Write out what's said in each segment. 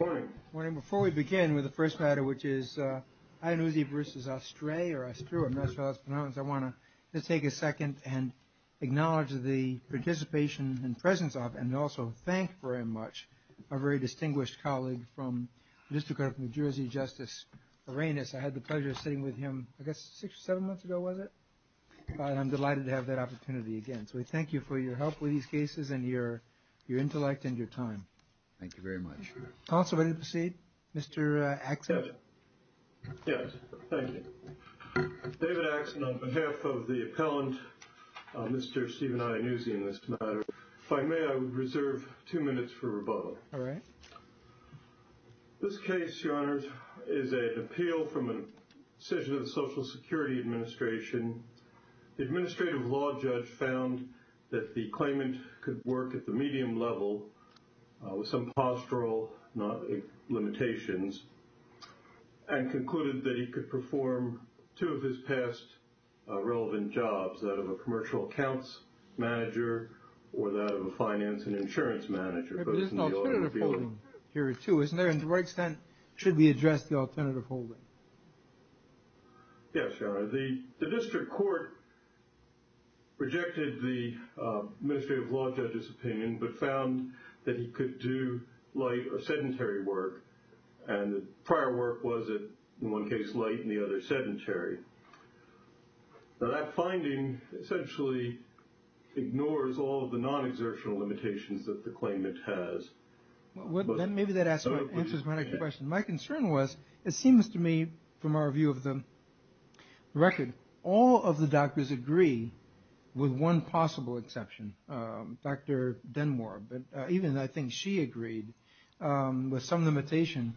Morning.Morning. Before we begin with the first matter, which is Iannuzzi versus Ostré or Ostré, I'm not sure how it's pronounced, I want to just take a second and acknowledge the participation and presence of and also thank very much a very distinguished colleague from the District Court of New Jersey, Justice Arenas. I had the pleasure of sitting with him, I guess six or seven months ago, was it? And I'm delighted to have that opportunity again. So we thank you for your help with these cases and your intellect and your time. Thank you very much. Counsel, ready to proceed? Mr. Axson? Yes, thank you. David Axson, on behalf of the appellant, Mr. Stephen Iannuzzi in this matter, if I may, I would reserve two minutes for rebuttal. All right. This case, Your Honor, is an appeal from a decision of the Social Security Administration. The Administrative Law Judge found that the claimant could work at the medium level with some postural limitations and concluded that he could perform two of his past relevant jobs, that of a commercial accounts manager or that of a finance and insurance manager. But there's an alternative holding here too, isn't there? And to what extent should we address the opinion but found that he could do light or sedentary work and the prior work was in one case light and the other sedentary. Now that finding essentially ignores all of the non-exertional limitations that the claimant has. Maybe that answers my question. My concern was, it seems to me from our view of the record, all of the doctors agree with one possible exception. Dr. Denmore, but even I think she agreed with some limitation.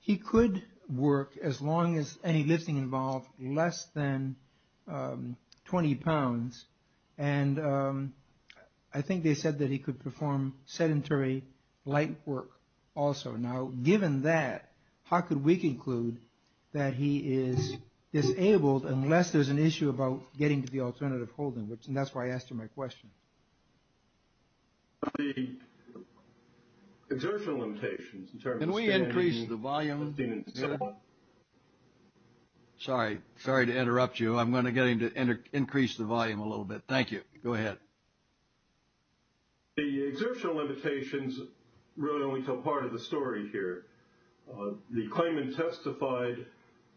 He could work as long as any lifting involved less than 20 pounds and I think they said that he could perform sedentary light work also. Now given that, how could we conclude that he is disabled unless there's an issue about getting to the alternative holding? And that's why I asked you my question. The exertional limitations in terms of... Can we increase the volume? Sorry. Sorry to interrupt you. I'm going to get him to increase the volume a little bit. Thank you. Go ahead. The exertional limitations really only tell part of the story here. The claimant testified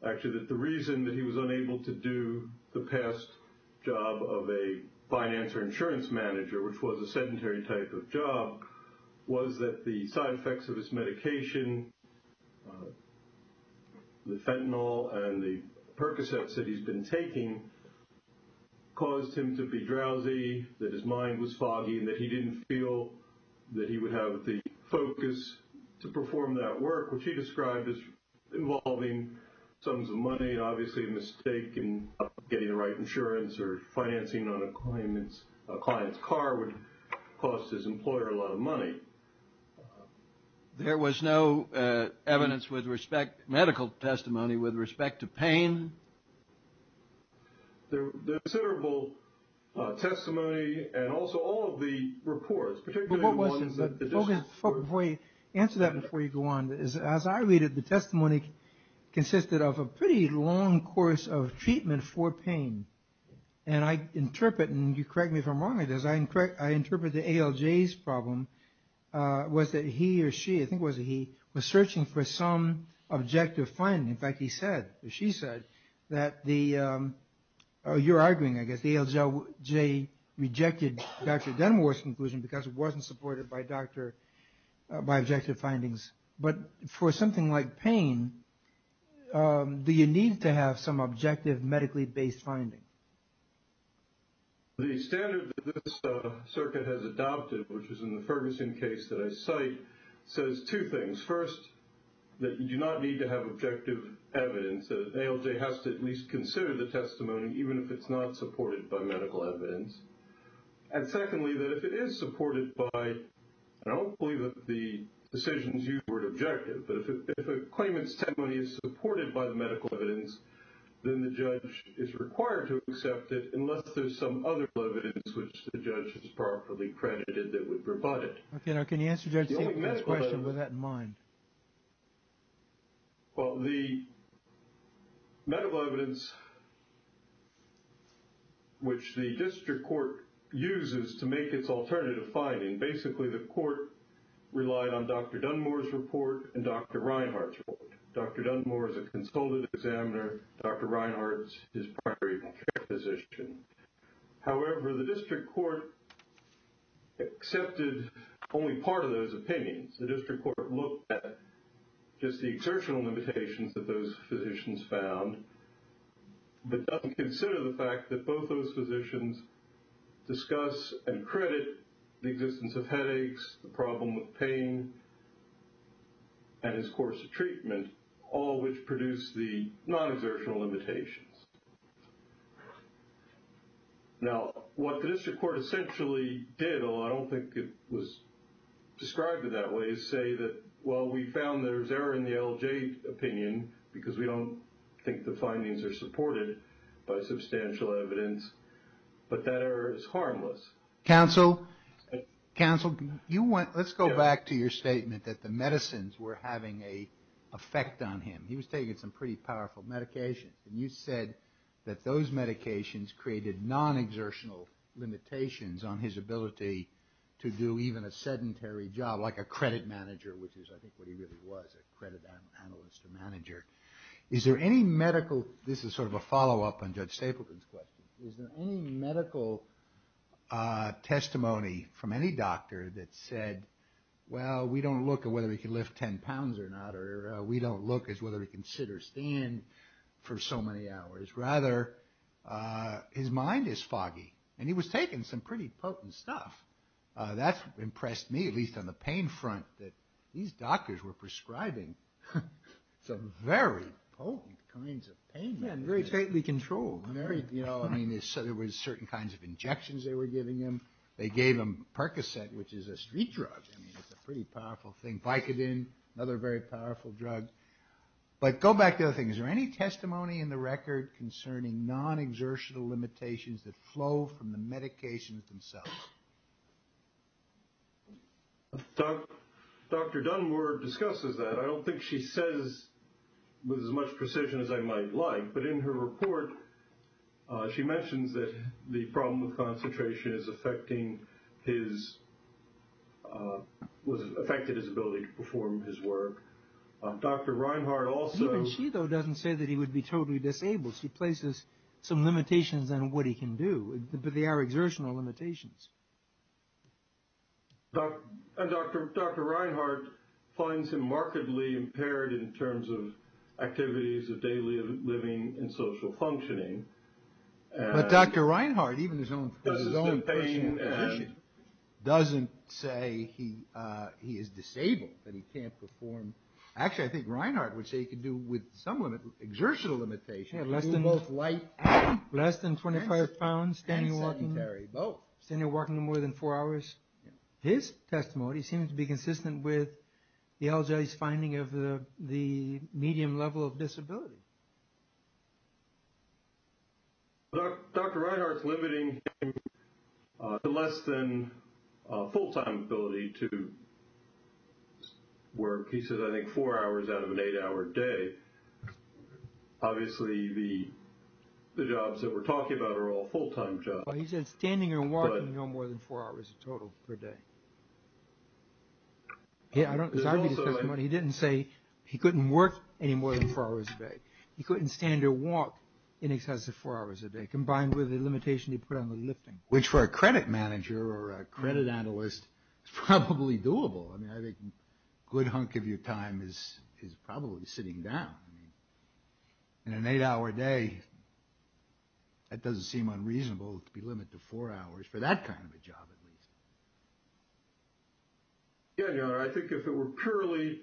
actually that the reason that he was unable to do the past job of a finance or insurance manager, which was a sedentary type of job, was that the side effects of his mind was foggy and that he didn't feel that he would have the focus to perform that work, which he described as involving sums of money, obviously a mistake in getting the right insurance or financing on a client's car would cost his employer a lot of money. There was no evidence with respect, medical testimony with respect to pain? There was considerable testimony and also all of the reports, particularly the ones that... Before you answer that, before you go on, as I read it, the testimony consisted of a pretty long course of treatment for pain. And I interpret, and you correct me if I'm wrong, I interpret the ALJ's problem was that he or she, I think it was he, was searching for some objective finding. In fact, he said, or she said, that the... Oh, you're arguing, I guess, the ALJ rejected Dr. Denmark's conclusion because it wasn't supported by objective findings. But for something like pain, do you need to have some objective medically-based finding? The standard that this circuit has adopted, which is in the Ferguson case that I cite, says two things. First, that you do not need to have objective evidence. The ALJ has to at least consider the testimony, even if it's not supported by medical evidence. And secondly, that if it is supported by, and I don't believe that the decisions use the word objective, but if a claimant's testimony is supported by the medical evidence, then the judge is required to accept it unless there's some other evidence which the judge has properly credited that would provide it. Okay. Now, can you answer Judge Siegel's question with that in mind? Well, the medical evidence which the district court uses to make its alternative finding, basically the court relied on Dr. Dunmore's report and Dr. Reinhardt's report. Dr. Dunmore is a consulted examiner. Dr. Reinhardt is a primary care physician. However, the district court accepted only part of those opinions. The district court looked at just the exertional limitations that those physicians found, but doesn't consider the fact that both those physicians discuss and credit the existence of headaches, the problem with pain, and his course of treatment, all which produced the non-exertional limitations. Now, what the district court essentially did, although I don't think it was described in that way, is say that, well, we found there's error in the LJ opinion because we don't think the findings are supported by substantial evidence, but that error is harmless. Counsel, let's go back to your statement that the medicines were having an effect on him. He was on some pretty powerful medications, and you said that those medications created non-exertional limitations on his ability to do even a sedentary job, like a credit manager, which is, I think, what he really was, a credit analyst or manager. Is there any medical, this is sort of a follow-up on Judge Stapleton's question, is there any medical testimony from any doctor that said, well, we don't look at whether he can lift 10 pounds or not, or we don't look at whether he can sit or stand for so many hours. Rather, his mind is foggy, and he was taking some pretty potent stuff. That impressed me, at least on the pain front, that these doctors were prescribing some very potent kinds of pain meds. Yeah, and very stately controlled. Very, you know, I mean, there was certain kinds of injections they were giving him. They gave him Percocet, which is a street drug. I mean, it's a pretty powerful thing. Vicodin, another very powerful drug. But go back to the thing. Is there any testimony in the record concerning non-exertional limitations that flow from the medications themselves? Dr. Dunmore discusses that. I don't think she says with as much precision as I might like, but in her report, she mentions that the problem of concentration is affecting his, was affecting his ability to perform his work. Dr. Reinhart also... Even she, though, doesn't say that he would be totally disabled. She places some limitations on what he can do, but they are exertional limitations. Dr. Reinhart finds him markedly impaired in terms of activities of daily living and social functioning. But Dr. Reinhart, even his own patient doesn't say he is disabled, that he can't perform. Actually, I think Reinhart would say he could do with some exertional limitations. Less than 25 pounds, standing walking more than four hours. His testimony seems to be consistent with the LJ's finding of the medium level of disability. Dr. Reinhart's limiting the less than full-time ability to work. He said, I think, four hours out of an eight-hour day. Obviously, the jobs that we're talking about are all full-time jobs. He said standing or walking no more than four hours total per day. He didn't say he couldn't work any more than four hours a day. He couldn't stand or walk in excess of four hours a day, combined with the limitation he put on the lifting, which for a credit manager or a credit analyst is probably doable. I mean, I think a good hunk of your time is probably sitting down. I mean, in an eight-hour day, that doesn't seem unreasonable to be limited to four hours for that kind of a job, at least. Yeah, I think if it were purely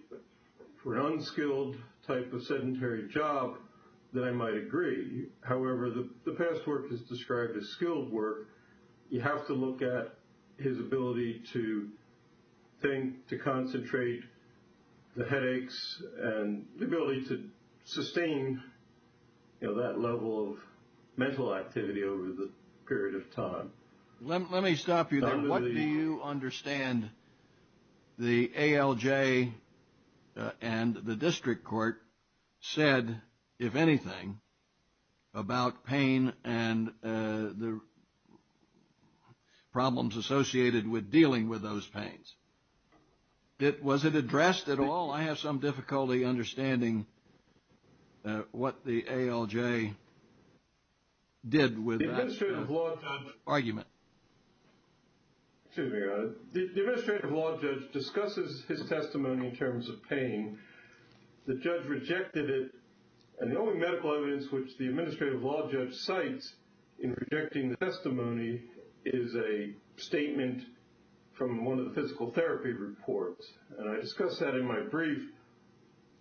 for an unskilled type of sedentary job, then I might agree. However, the best work is described as skilled work. You have to look at his ability to think, to concentrate, the headaches, and the ability to sustain that level of mental activity over the period of time. Let me stop you there. What do you understand the ALJ and the district court said, if anything, about pain and the pain? Was it addressed at all? I have some difficulty understanding what the ALJ did with that argument. The administrative law judge discusses his testimony in terms of pain. The judge rejected it, and the only medical evidence which the administrative law judge cites in rejecting the testimony is a statement from one of the physical therapy reports. And I discussed that in my brief,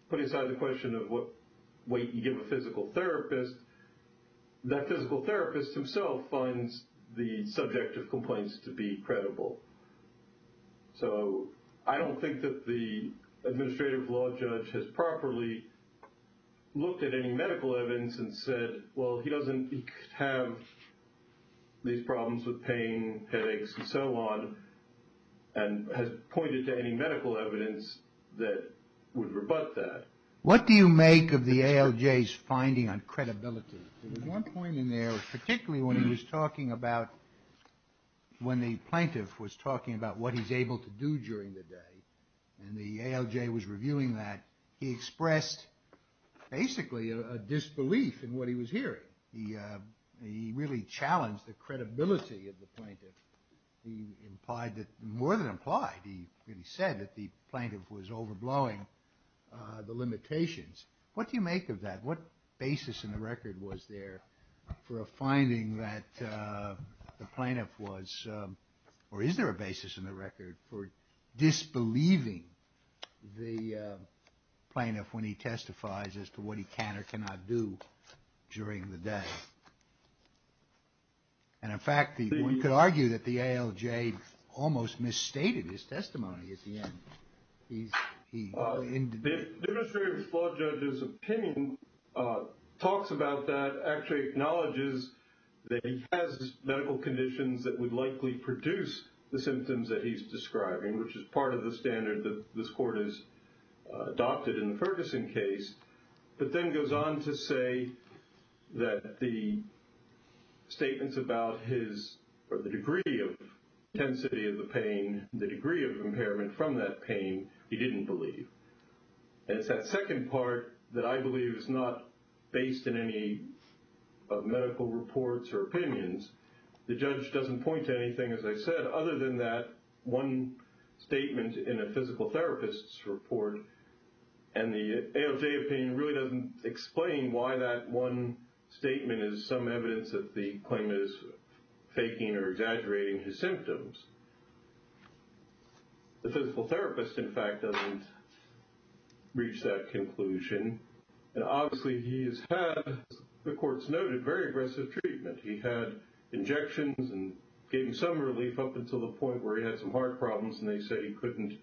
putting aside the question of what weight you give a physical therapist, that physical therapist himself finds the subject of complaints to be credible. So I don't think that the administrative law judge has properly looked at any medical evidence and said, well, he doesn't have these problems with pain, headaches, and so on, and has pointed to any medical evidence that would rebut that. What do you make of the ALJ's finding on credibility? There was one point in there, particularly when he was talking about, when the plaintiff was talking about what he's able to do during the day, and the ALJ was reviewing that, he expressed basically a disbelief in what he was hearing. He really challenged the credibility of the plaintiff. He implied that, more than implied, he really said that the plaintiff was overblowing the limitations. What do you make of that? What basis in the record was there for a finding that the plaintiff was, or is there a basis in the record for disbelieving the plaintiff when he testifies as to what he can or cannot do during the day? And in fact, one could argue that the ALJ almost misstated his testimony at the end. The administrative law judge's opinion talks about that, actually acknowledges that he has medical conditions that would likely produce the symptoms that he's describing, which is part of the standard that this Court has adopted in the Ferguson case, but then goes on to say that the statements about his, or the degree of intensity of the pain, the degree of impairment from that pain, he didn't believe. And it's that second part that I believe is not based in any of medical reports or opinions. The judge doesn't point to anything, as I said, other than that one statement in a physical therapist's report. And the ALJ opinion really doesn't explain why that one statement is some evidence that the plaintiff is faking or exaggerating his symptoms. The physical therapist, in fact, doesn't reach that conclusion. And obviously, he has had, as the Court's noted, very aggressive treatment. He had injections and gave him some relief up until the point where he had some heart problems, and they said he couldn't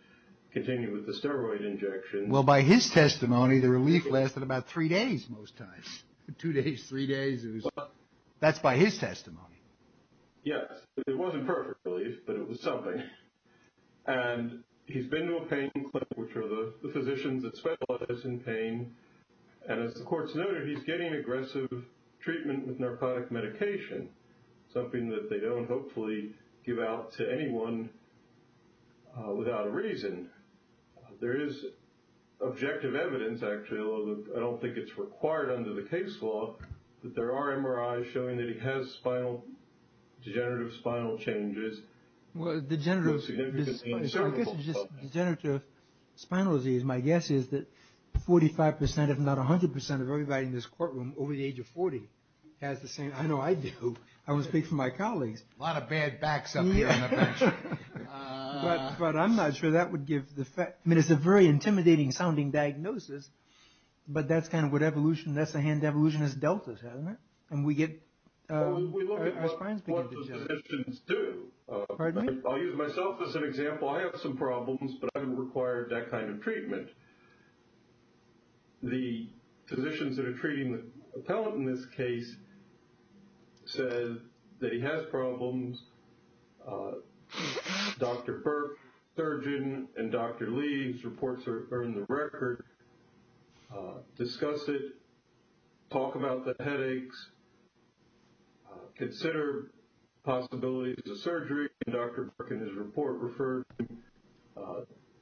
continue with the steroid injections. Well, by his testimony, the relief lasted about three days most times, two days, three days. That's by his testimony. Yes. It wasn't perfect relief, but it was something. And he's been to a pain clinic, which are the physicians that specialize in pain. And as the Court's noted, he's getting aggressive treatment with narcotic medication, something that they don't hopefully give out to anyone without a reason. There is objective evidence, actually, although I don't think it's required under the case law, that there are MRIs showing that he has degenerative spinal changes. Well, degenerative spinal disease, my guess is that 45% if not 100% of everybody in this courtroom over the age of 40 has the same. I know I do. I always speak for my colleagues. A lot of bad backs up here on the bench. But I'm not sure that would give the fact. I mean, it's a very intimidating sounding diagnosis, but that's kind of what evolution, that's the hand evolutionist deltas, and we get... We look at what the physicians do. Pardon me? I'll use myself as an example. I have some problems, but I don't require that kind of treatment. The physicians that are treating the appellant in this case said that he has problems. Dr. Burke, surgeon, and Dr. Lee's reports are in the record. Discuss it, talk about the headaches, consider possibilities of surgery, and Dr. Burke and his report referred him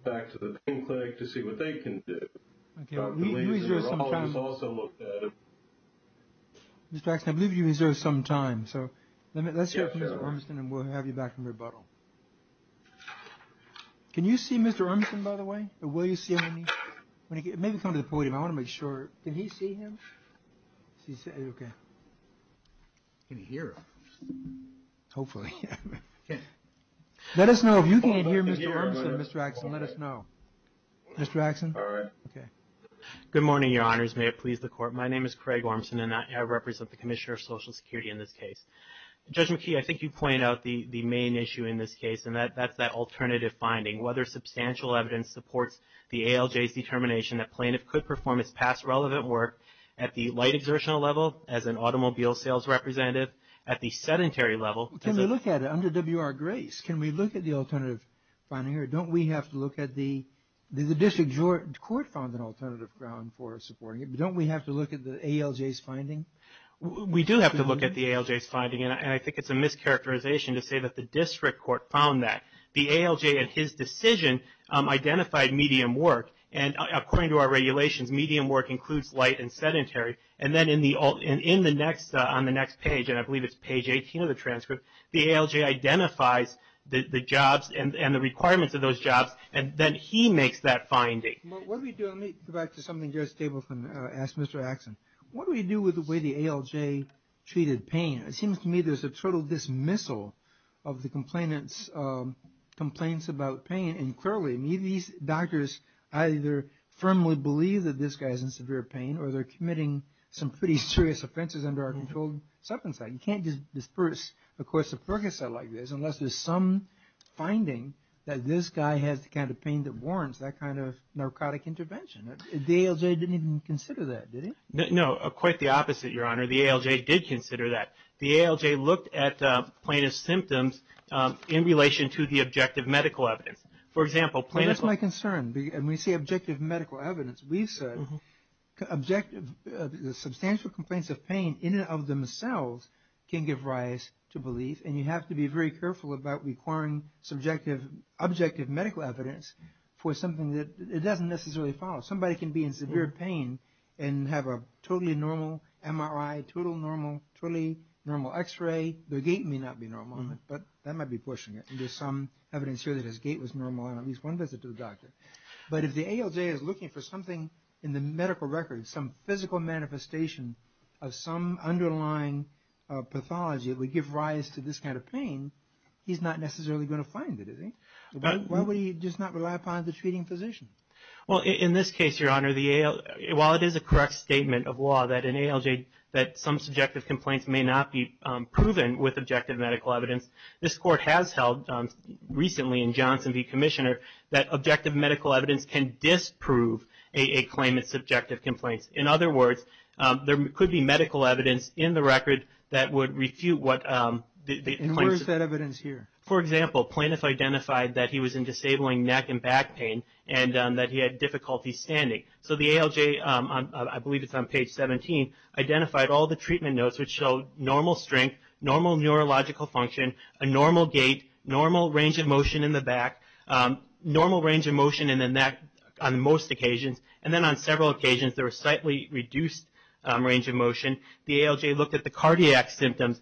back to the pain clinic to see what they can do. Dr. Lee's neurologist also looked at him. Mr. Axne, I believe you reserved some time, so let's hear from Mr. Ormson, by the way. Will you see him? Maybe come to the podium. I want to make sure. Can he see him? Can you hear him? Hopefully, yeah. Let us know if you can't hear Mr. Ormson. Mr. Axne, let us know. Mr. Axne? All right. Okay. Good morning, Your Honors. May it please the Court. My name is Craig Ormson, and I represent the Commissioner of Social Security in this case. Judge McKee, I think you issue in this case, and that's that alternative finding. Whether substantial evidence supports the ALJ's determination that plaintiff could perform his past relevant work at the light exertional level, as an automobile sales representative, at the sedentary level. Can we look at it under W.R. Grace? Can we look at the alternative finding here? Don't we have to look at the, the District Court found an alternative ground for supporting it, but don't we have to look at the ALJ's finding? We do have to look at the ALJ's finding, and I think it's a mischaracterization to say that the District Court found that. The ALJ, in his decision, identified medium work, and according to our regulations, medium work includes light and sedentary, and then in the, in the next, on the next page, and I believe it's page 18 of the transcript, the ALJ identifies the, the jobs and, and the requirements of those jobs, and then he makes that finding. What do we do? Let me go back to something Judge Stapleton asked Mr. Axne. What do we do with the ALJ-treated pain? It seems to me there's a total dismissal of the complainants' complaints about pain, and clearly, I mean, these doctors either firmly believe that this guy's in severe pain, or they're committing some pretty serious offenses under our controlled substance act. You can't just disperse a course of Percocet like this unless there's some finding that this guy has the kind of pain that warrants that kind of narcotic intervention. The ALJ didn't even consider that, did it? No, quite the opposite, Your Honor. The ALJ did consider that. The ALJ looked at plaintiff's symptoms in relation to the objective medical evidence. For example, plaintiff's... That's my concern, and when you say objective medical evidence, we've said objective, substantial complaints of pain in and of themselves can give rise to belief, and you have to be very careful about requiring subjective, objective medical evidence for something that it doesn't necessarily follow. Somebody can be in severe pain and have a totally normal MRI, totally normal X-ray. The gait may not be normal, but that might be pushing it, and there's some evidence here that his gait was normal on at least one visit to the doctor. But if the ALJ is looking for something in the medical record, some physical manifestation of some underlying pathology that would give rise to this kind of pain, he's not necessarily going to find it, is he? Why would he just not rely upon the treating physician? Well, in this case, Your Honor, while it is a correct statement of law that in ALJ that some subjective complaints may not be proven with objective medical evidence, this Court has held recently in Johnson v. Commissioner that objective medical evidence can disprove a claimant's subjective complaints. In other words, there could be medical evidence in the record that would refute what the claim... Where is that evidence here? For example, plaintiff identified that he was in disabling neck and back pain and that he had difficulty standing. So the ALJ, I believe it's on page 17, identified all the treatment notes which show normal strength, normal neurological function, a normal gait, normal range of motion in the back, normal range of motion in the neck on most occasions, and then on several occasions there was slightly reduced range of motion. The ALJ looked at the cardiac symptoms.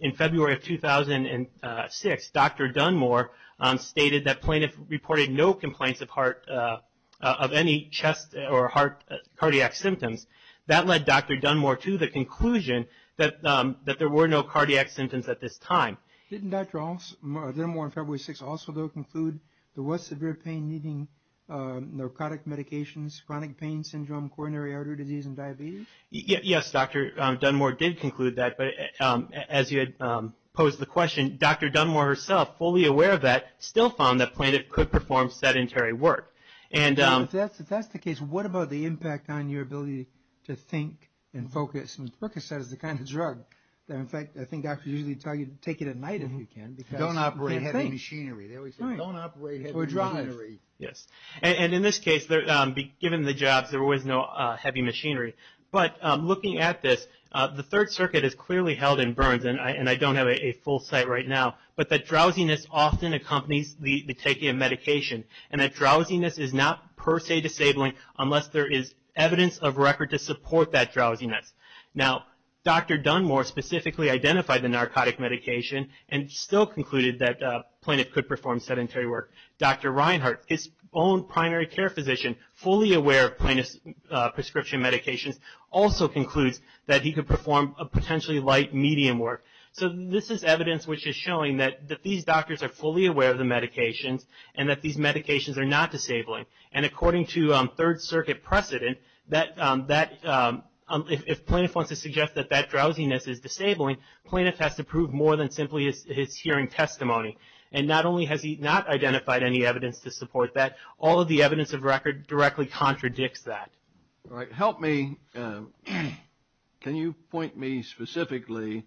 In February 2006, Dr. Dunmore stated that plaintiff reported no complaints of any chest or heart cardiac symptoms. That led Dr. Dunmore to the conclusion that there were no cardiac symptoms at this time. Didn't Dr. Dunmore on February 6 also conclude there was severe pain needing narcotic medications, chronic pain syndrome, coronary artery disease, and diabetes? Yes, Dr. Dunmore did conclude that, but as you had posed the question, Dr. Dunmore herself, fully aware of that, still found that plaintiff could perform sedentary work. If that's the case, what about the impact on your ability to think and focus? Percocet is the kind of drug that, in fact, I think doctors usually tell you to take it at night if you can because... Don't operate heavy machinery. They always say, don't operate heavy machinery. Yes. And in this case, given the jobs, there was no heavy machinery. But looking at this, the Third Circuit has clearly held in Burns, and I don't have a full site right now, but that drowsiness often accompanies the taking of medication. And that drowsiness is not per se disabling unless there is evidence of record to support that drowsiness. Now, Dr. Dunmore specifically identified the narcotic medication and still concluded that plaintiff could perform sedentary work. Dr. Reinhart, his own primary care physician, fully aware of plaintiff's prescription medications, also concludes that he could perform a potentially light medium work. So this is evidence which is showing that these doctors are fully aware of the medications and that these medications are not disabling. And according to Third Circuit precedent, if plaintiff wants to suggest that that drowsiness is disabling, plaintiff has to prove more than his hearing testimony. And not only has he not identified any evidence to support that, all of the evidence of record directly contradicts that. All right. Help me. Can you point me specifically?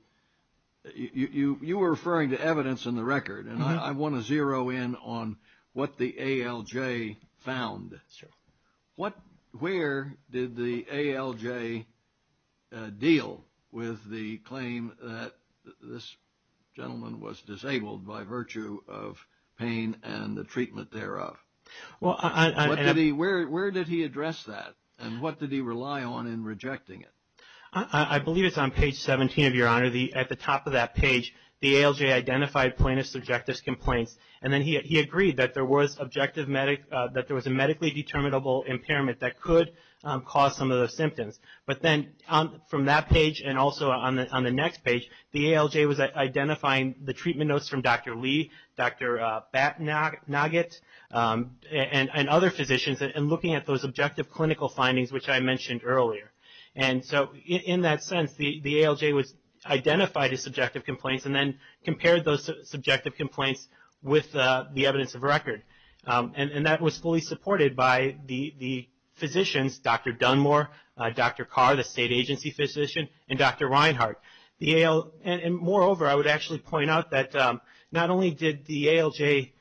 You were referring to evidence in the record, and I want to zero in on what the ALJ found. Where did the ALJ deal with the claim that this gentleman was disabled by virtue of pain and the treatment thereof? Where did he address that, and what did he rely on in rejecting it? I believe it's on page 17, Your Honor. At the top of that page, the ALJ identified plaintiff's objective complaints, and then he agreed that there was a medically determinable impairment that could cause some of those symptoms. But then from that page and also on the next page, the ALJ was identifying the treatment notes from Dr. Lee, Dr. Batnaget, and other physicians, and looking at those objective clinical findings, which I mentioned earlier. And so in that sense, the ALJ identified his subjective complaints and then compared those subjective complaints with the evidence of record. And that was fully supported by the physicians, Dr. Dunmore, Dr. Carr, the state agency physician, and Dr. Reinhart. And moreover, I would actually point out that not only did the ALJ,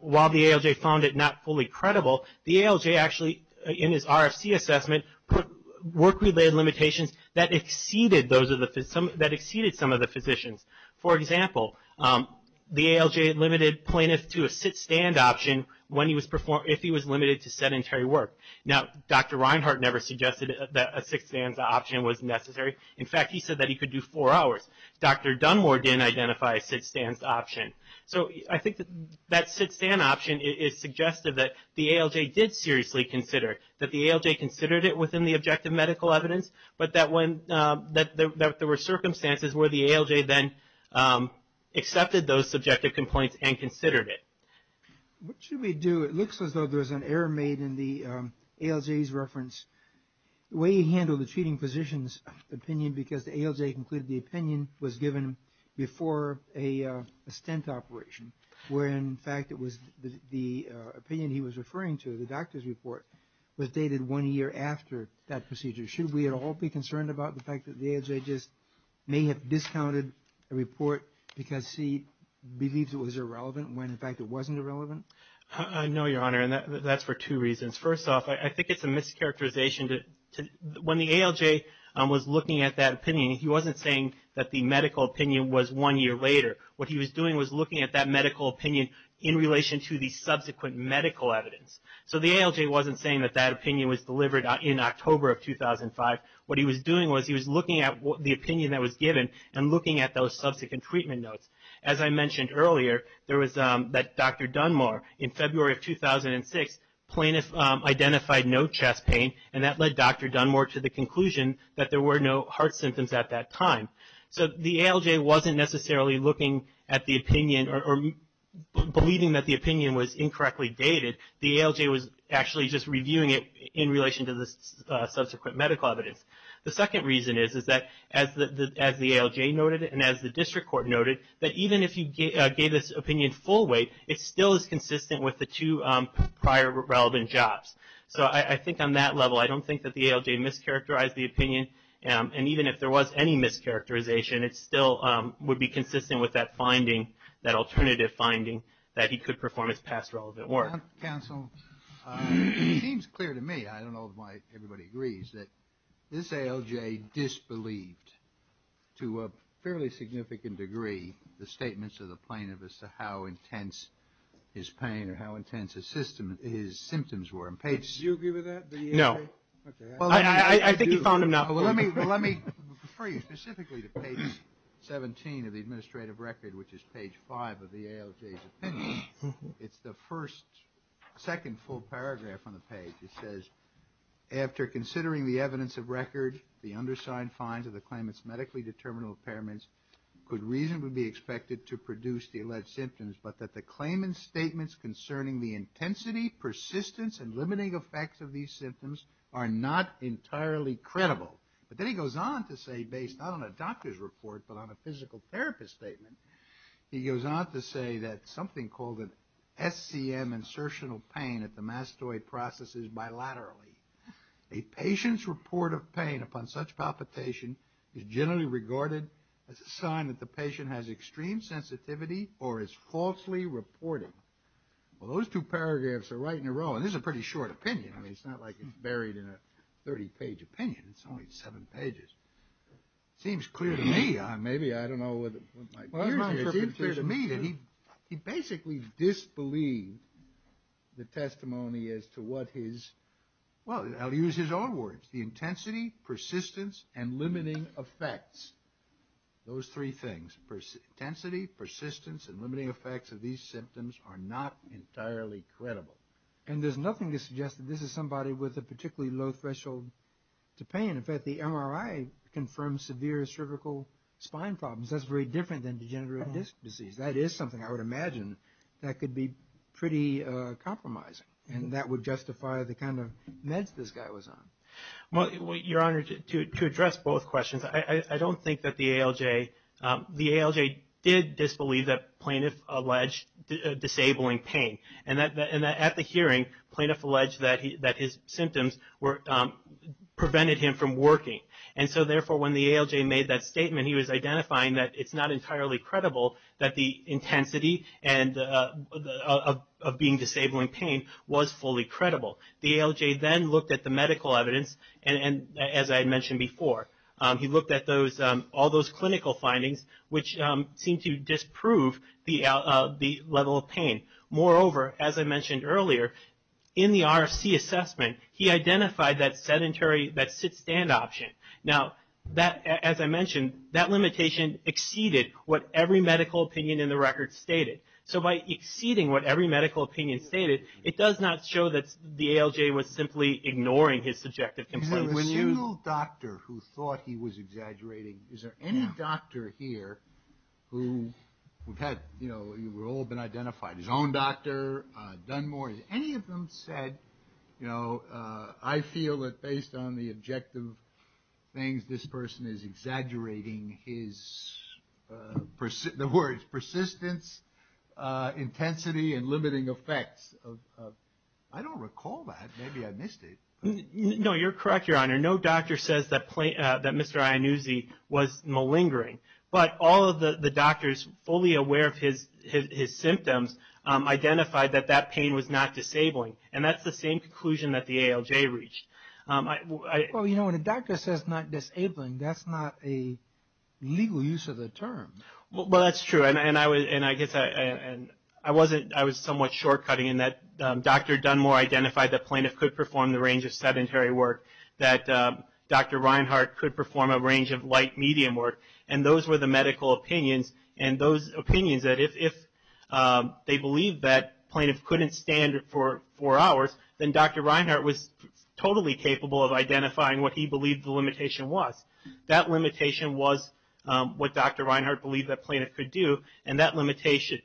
while the ALJ found it not fully credible, the ALJ actually, in his RFC assessment, put work-related limitations that exceeded some of the physicians. For example, the ALJ limited plaintiff to a sit-stand option if he was limited to sedentary work. Now, Dr. Reinhart never suggested that a sit-stand option was necessary. In fact, he said that he could do four hours. Dr. Dunmore didn't identify a sit-stand option. So I think that that sit-stand option is suggestive that the ALJ did seriously consider, that the ALJ considered it within the objective medical evidence, but that there were circumstances where the ALJ then accepted those subjective complaints and considered it. What should we do? It looks as though there's an error made in the ALJ's reference. The way he handled the treating physician's opinion, because the ALJ concluded the opinion was given before a stent operation, where in fact it was the opinion he was referring to, the doctor's report, was dated one year after that procedure. Should we at all be concerned about the fact that the ALJ just may have discounted a report because he believes it was irrelevant, when in fact it wasn't irrelevant? I know, Your Honor, and that's for two reasons. First off, I think it's a mischaracterization. When the ALJ was looking at that opinion, he wasn't saying that the medical opinion was one year later. What he was doing was looking at that medical opinion in relation to the subsequent medical evidence. So the ALJ wasn't saying that that opinion was delivered in October of 2005. What he was doing was he was looking at the opinion that was given and looking at those subsequent treatment notes. As I mentioned earlier, there was that Dr. Dunmore, in February of 2006, identified no chest pain, and that led Dr. Dunmore to the conclusion that there were no heart symptoms at that time. So the ALJ wasn't necessarily looking at the opinion or believing that the opinion was incorrectly dated. The ALJ was actually just reviewing it in relation to the subsequent medical evidence. The second reason is that, as the ALJ noted and as the district court noted, that even if you gave this opinion full weight, it still is consistent with the two relevant jobs. So I think on that level, I don't think that the ALJ mischaracterized the opinion, and even if there was any mischaracterization, it still would be consistent with that finding, that alternative finding, that he could perform his past relevant work. Counsel, it seems clear to me, I don't know why everybody agrees, that this ALJ disbelieved, to a fairly significant degree, the statements of the plaintiff as to how intense his pain or how intense his symptoms were. Did you agree with that, the ALJ? No. Well, I think you found him not. Well, let me refer you specifically to page 17 of the administrative record, which is page 5 of the ALJ's opinion. It's the first, second full paragraph on the page. It says, after considering the evidence of record, the undersigned finds of the claimant's medically determinable impairments could reasonably be expected to produce the alleged symptoms, but that the claimant's statements concerning the intensity, persistence, and limiting effects of these symptoms are not entirely credible. But then he goes on to say, based not on a doctor's report, but on a physical therapist's statement, he goes on to say that something called an SCM insertional pain at the mastoid processes bilaterally. A patient's report of pain upon such palpitation is generally regarded as a sign that patient has extreme sensitivity or is falsely reporting. Well, those two paragraphs are right in a row, and this is a pretty short opinion. I mean, it's not like it's buried in a 30-page opinion. It's only seven pages. It seems clear to me. Maybe I don't know what it might be. Well, it's clear to me that he basically disbelieved the testimony as to what his, well, I'll use his own words, the intensity, persistence, and limiting effects, those three things, intensity, persistence, and limiting effects of these symptoms are not entirely credible. And there's nothing to suggest that this is somebody with a particularly low threshold to pain. In fact, the MRI confirmed severe cervical spine problems. That's very different than degenerative disc disease. That is something I would imagine that could be pretty compromising, and that would justify the kind of meds this guy was on. Well, Your Honor, to address both questions, I don't think that the ALJ, the ALJ did disbelieve that plaintiff alleged disabling pain, and that at the hearing, plaintiff alleged that his symptoms were, prevented him from working. And so, therefore, when the ALJ made that statement, he was identifying that it's not entirely credible that the intensity of being disabling pain was fully credible. The ALJ then looked at the medical evidence, and as I mentioned before, he looked at all those clinical findings, which seemed to disprove the level of pain. Moreover, as I mentioned earlier, in the RFC assessment, he identified that sedentary, that sit-stand option. Now, as I mentioned, that limitation exceeded what every medical opinion in the record stated. So by exceeding what every medical opinion stated, it does not show that the ALJ was simply ignoring his subjective complaint. Is there a single doctor who thought he was exaggerating? Is there any doctor here who had, you know, all been identified, his own doctor, Dunmore, any of them said, you know, I feel that based on the objective things, this person is exaggerating his, the words, persistence, intensity, and limiting effects. I don't recall that. Maybe I missed it. No, you're correct, Your Honor. No doctor says that Mr. Iannuzzi was malingering. But all of the doctors fully aware of his symptoms identified that that pain was not disabling. And that's the same conclusion that the ALJ reached. Well, you know, when a doctor says not disabling, that's not a legal use of the term. Well, that's true. And I guess I wasn't, I was somewhat short-cutting in that Dr. Dunmore identified the plaintiff could perform the range of sedentary work, that Dr. Reinhart could perform a range of light-medium work. And those were the medical opinions. And those opinions that if they believed that plaintiff couldn't stand it for four hours, then Dr. Reinhart was totally capable of identifying what he believed the limitation was. That limitation was what Dr. Reinhart believed that plaintiff could do. And that limitation,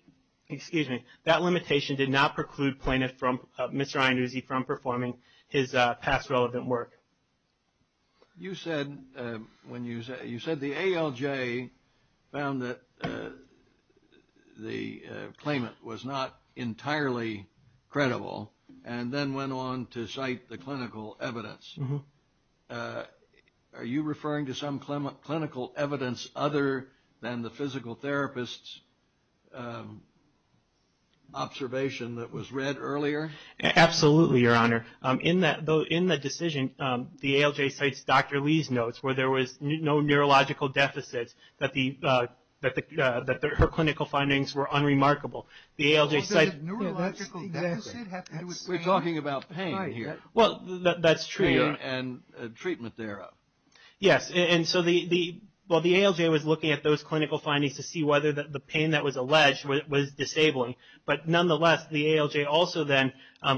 excuse me, that limitation did not preclude plaintiff from, Mr. Iannuzzi from performing his past relevant work. You said, when you said, you said the ALJ found that the claimant was not entirely credible and then went on to cite the clinical evidence. Are you referring to some clinical evidence other than the physical therapist's observation that was read earlier? Absolutely, Your Honor. In the decision, the ALJ cites Dr. Lee's notes where there was no neurological deficits that the, that her clinical findings were unremarkable. The ALJ cited neurological deficits. We're talking about pain here. Well, that's true. And treatment thereof. Yes. And so the, well, the ALJ was looking at those clinical findings to see whether the pain that was alleged was disabling. But nonetheless, the ALJ also then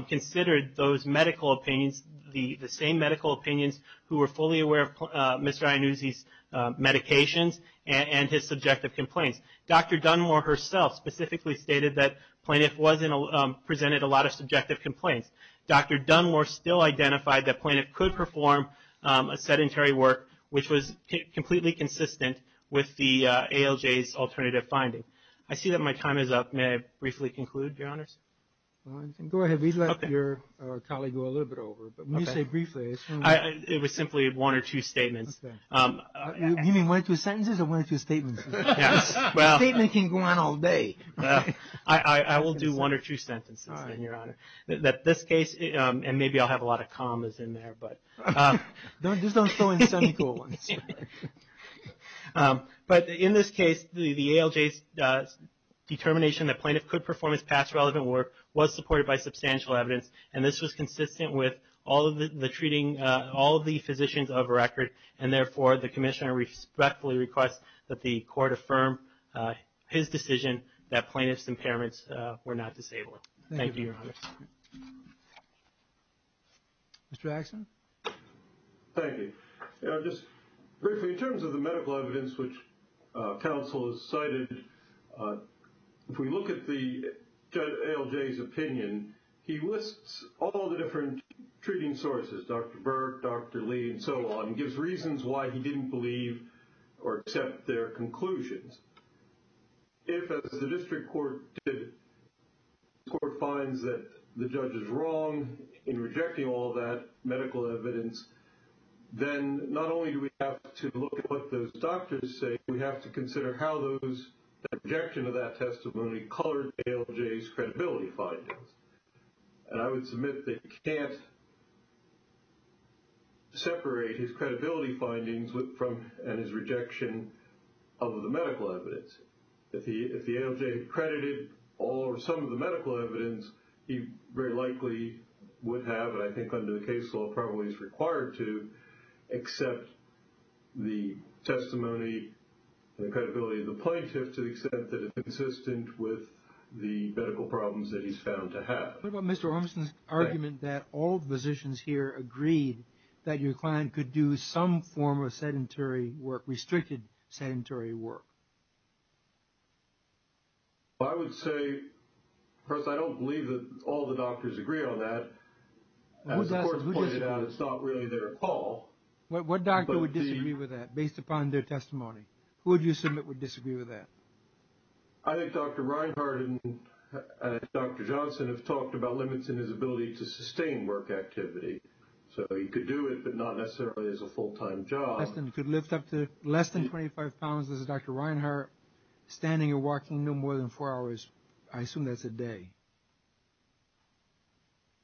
considered those medical opinions, the same medical opinions who were fully aware of Mr. Iannuzzi's medications and his subjective complaints. Dr. Dunmore herself specifically stated that plaintiff wasn't, presented a lot of subjective complaints. Dr. Dunmore still identified that plaintiff could perform a sedentary work, which was completely consistent with the ALJ's alternative finding. I see that my time is up. May I briefly conclude, Your Honors? Go ahead. We'd let your colleague go a little bit over. But when you say briefly, it's fine. It was simply one or two statements. Okay. You mean one or two sentences or one or two statements? Yes. Well. A statement can go on all day. I will do one or two sentences then, Your Honor. That this case, and maybe I'll have a lot of them. Just don't throw in semicolons. But in this case, the ALJ's determination that plaintiff could perform his past relevant work was supported by substantial evidence. And this was consistent with all of the treating, all of the physicians of record. And therefore, the commissioner respectfully requests that the court affirm his decision that plaintiff's impairments were not disabled. Thank you, Your Honor. Okay. Mr. Axson? Thank you. Just briefly, in terms of the medical evidence which counsel has cited, if we look at the ALJ's opinion, he lists all the different treating sources, Dr. Burke, Dr. Lee, and so on. He gives reasons why he didn't believe or accept their conclusions. And if the district court finds that the judge is wrong in rejecting all that medical evidence, then not only do we have to look at what those doctors say, we have to consider how those, the objection of that testimony colored ALJ's credibility findings. And I would submit that you can't separate his credibility findings and his rejection of the medical evidence. If the ALJ credited all or some of the medical evidence, he very likely would have, and I think under the case law probably is required to, accept the testimony, the credibility of the plaintiff to the extent that it's consistent with the medical problems that he's found to have. What about Mr. Ormson's argument that all the physicians here agreed that your client could do some form of sedentary work, restricted sedentary work? Well, I would say, first, I don't believe that all the doctors agree on that. As the court pointed out, it's not really their call. What doctor would disagree with that based upon their testimony? Who would you submit would disagree with that? I think Dr. Reinhart and Dr. Johnson have talked about limits in his ability to sustain work activity. So he could do it, but not necessarily as a full-time job. And could lift up to less than 25 pounds as Dr. Reinhart, standing and walking no more than four hours. I assume that's a day.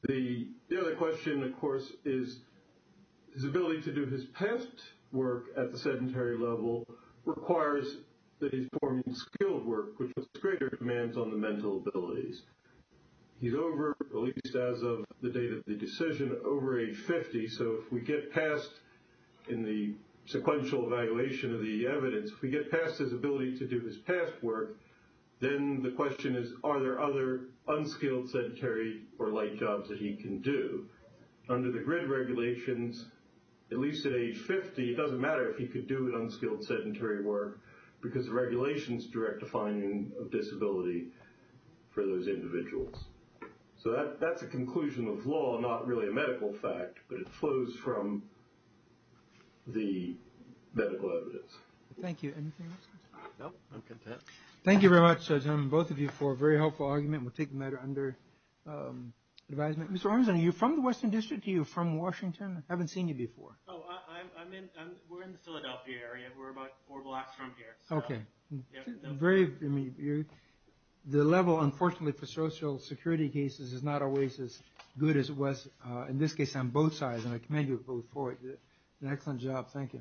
The other question, of course, is his ability to do his past work at the sedentary level requires that he's forming skilled work, which has greater demands on the mental abilities. He's over, at least as of the date of the decision, over age 50. So if we get past in the sequential evaluation of the evidence, if we get past his ability to do his past work, then the question is, are there other unskilled sedentary or light jobs that he can do? Under the grid regulations, at least at age 50, it doesn't matter if he could do an unskilled sedentary work, because the regulations direct defining of disability for those individuals. So that's a conclusion of law, not really a medical fact, but it flows from the medical evidence. Thank you. Anything else? No, I'm content. Thank you very much, gentlemen, both of you, for a very helpful argument. We'll take the matter under advisement. Mr. Armisen, are you from the Western District? Are you from Washington? I haven't seen you before. Oh, we're in the Philadelphia area. We're about four blocks from here. The level, unfortunately, for social security cases is not always as good as it was in this case on both sides, and I commend you both for it. An excellent job. Thank you.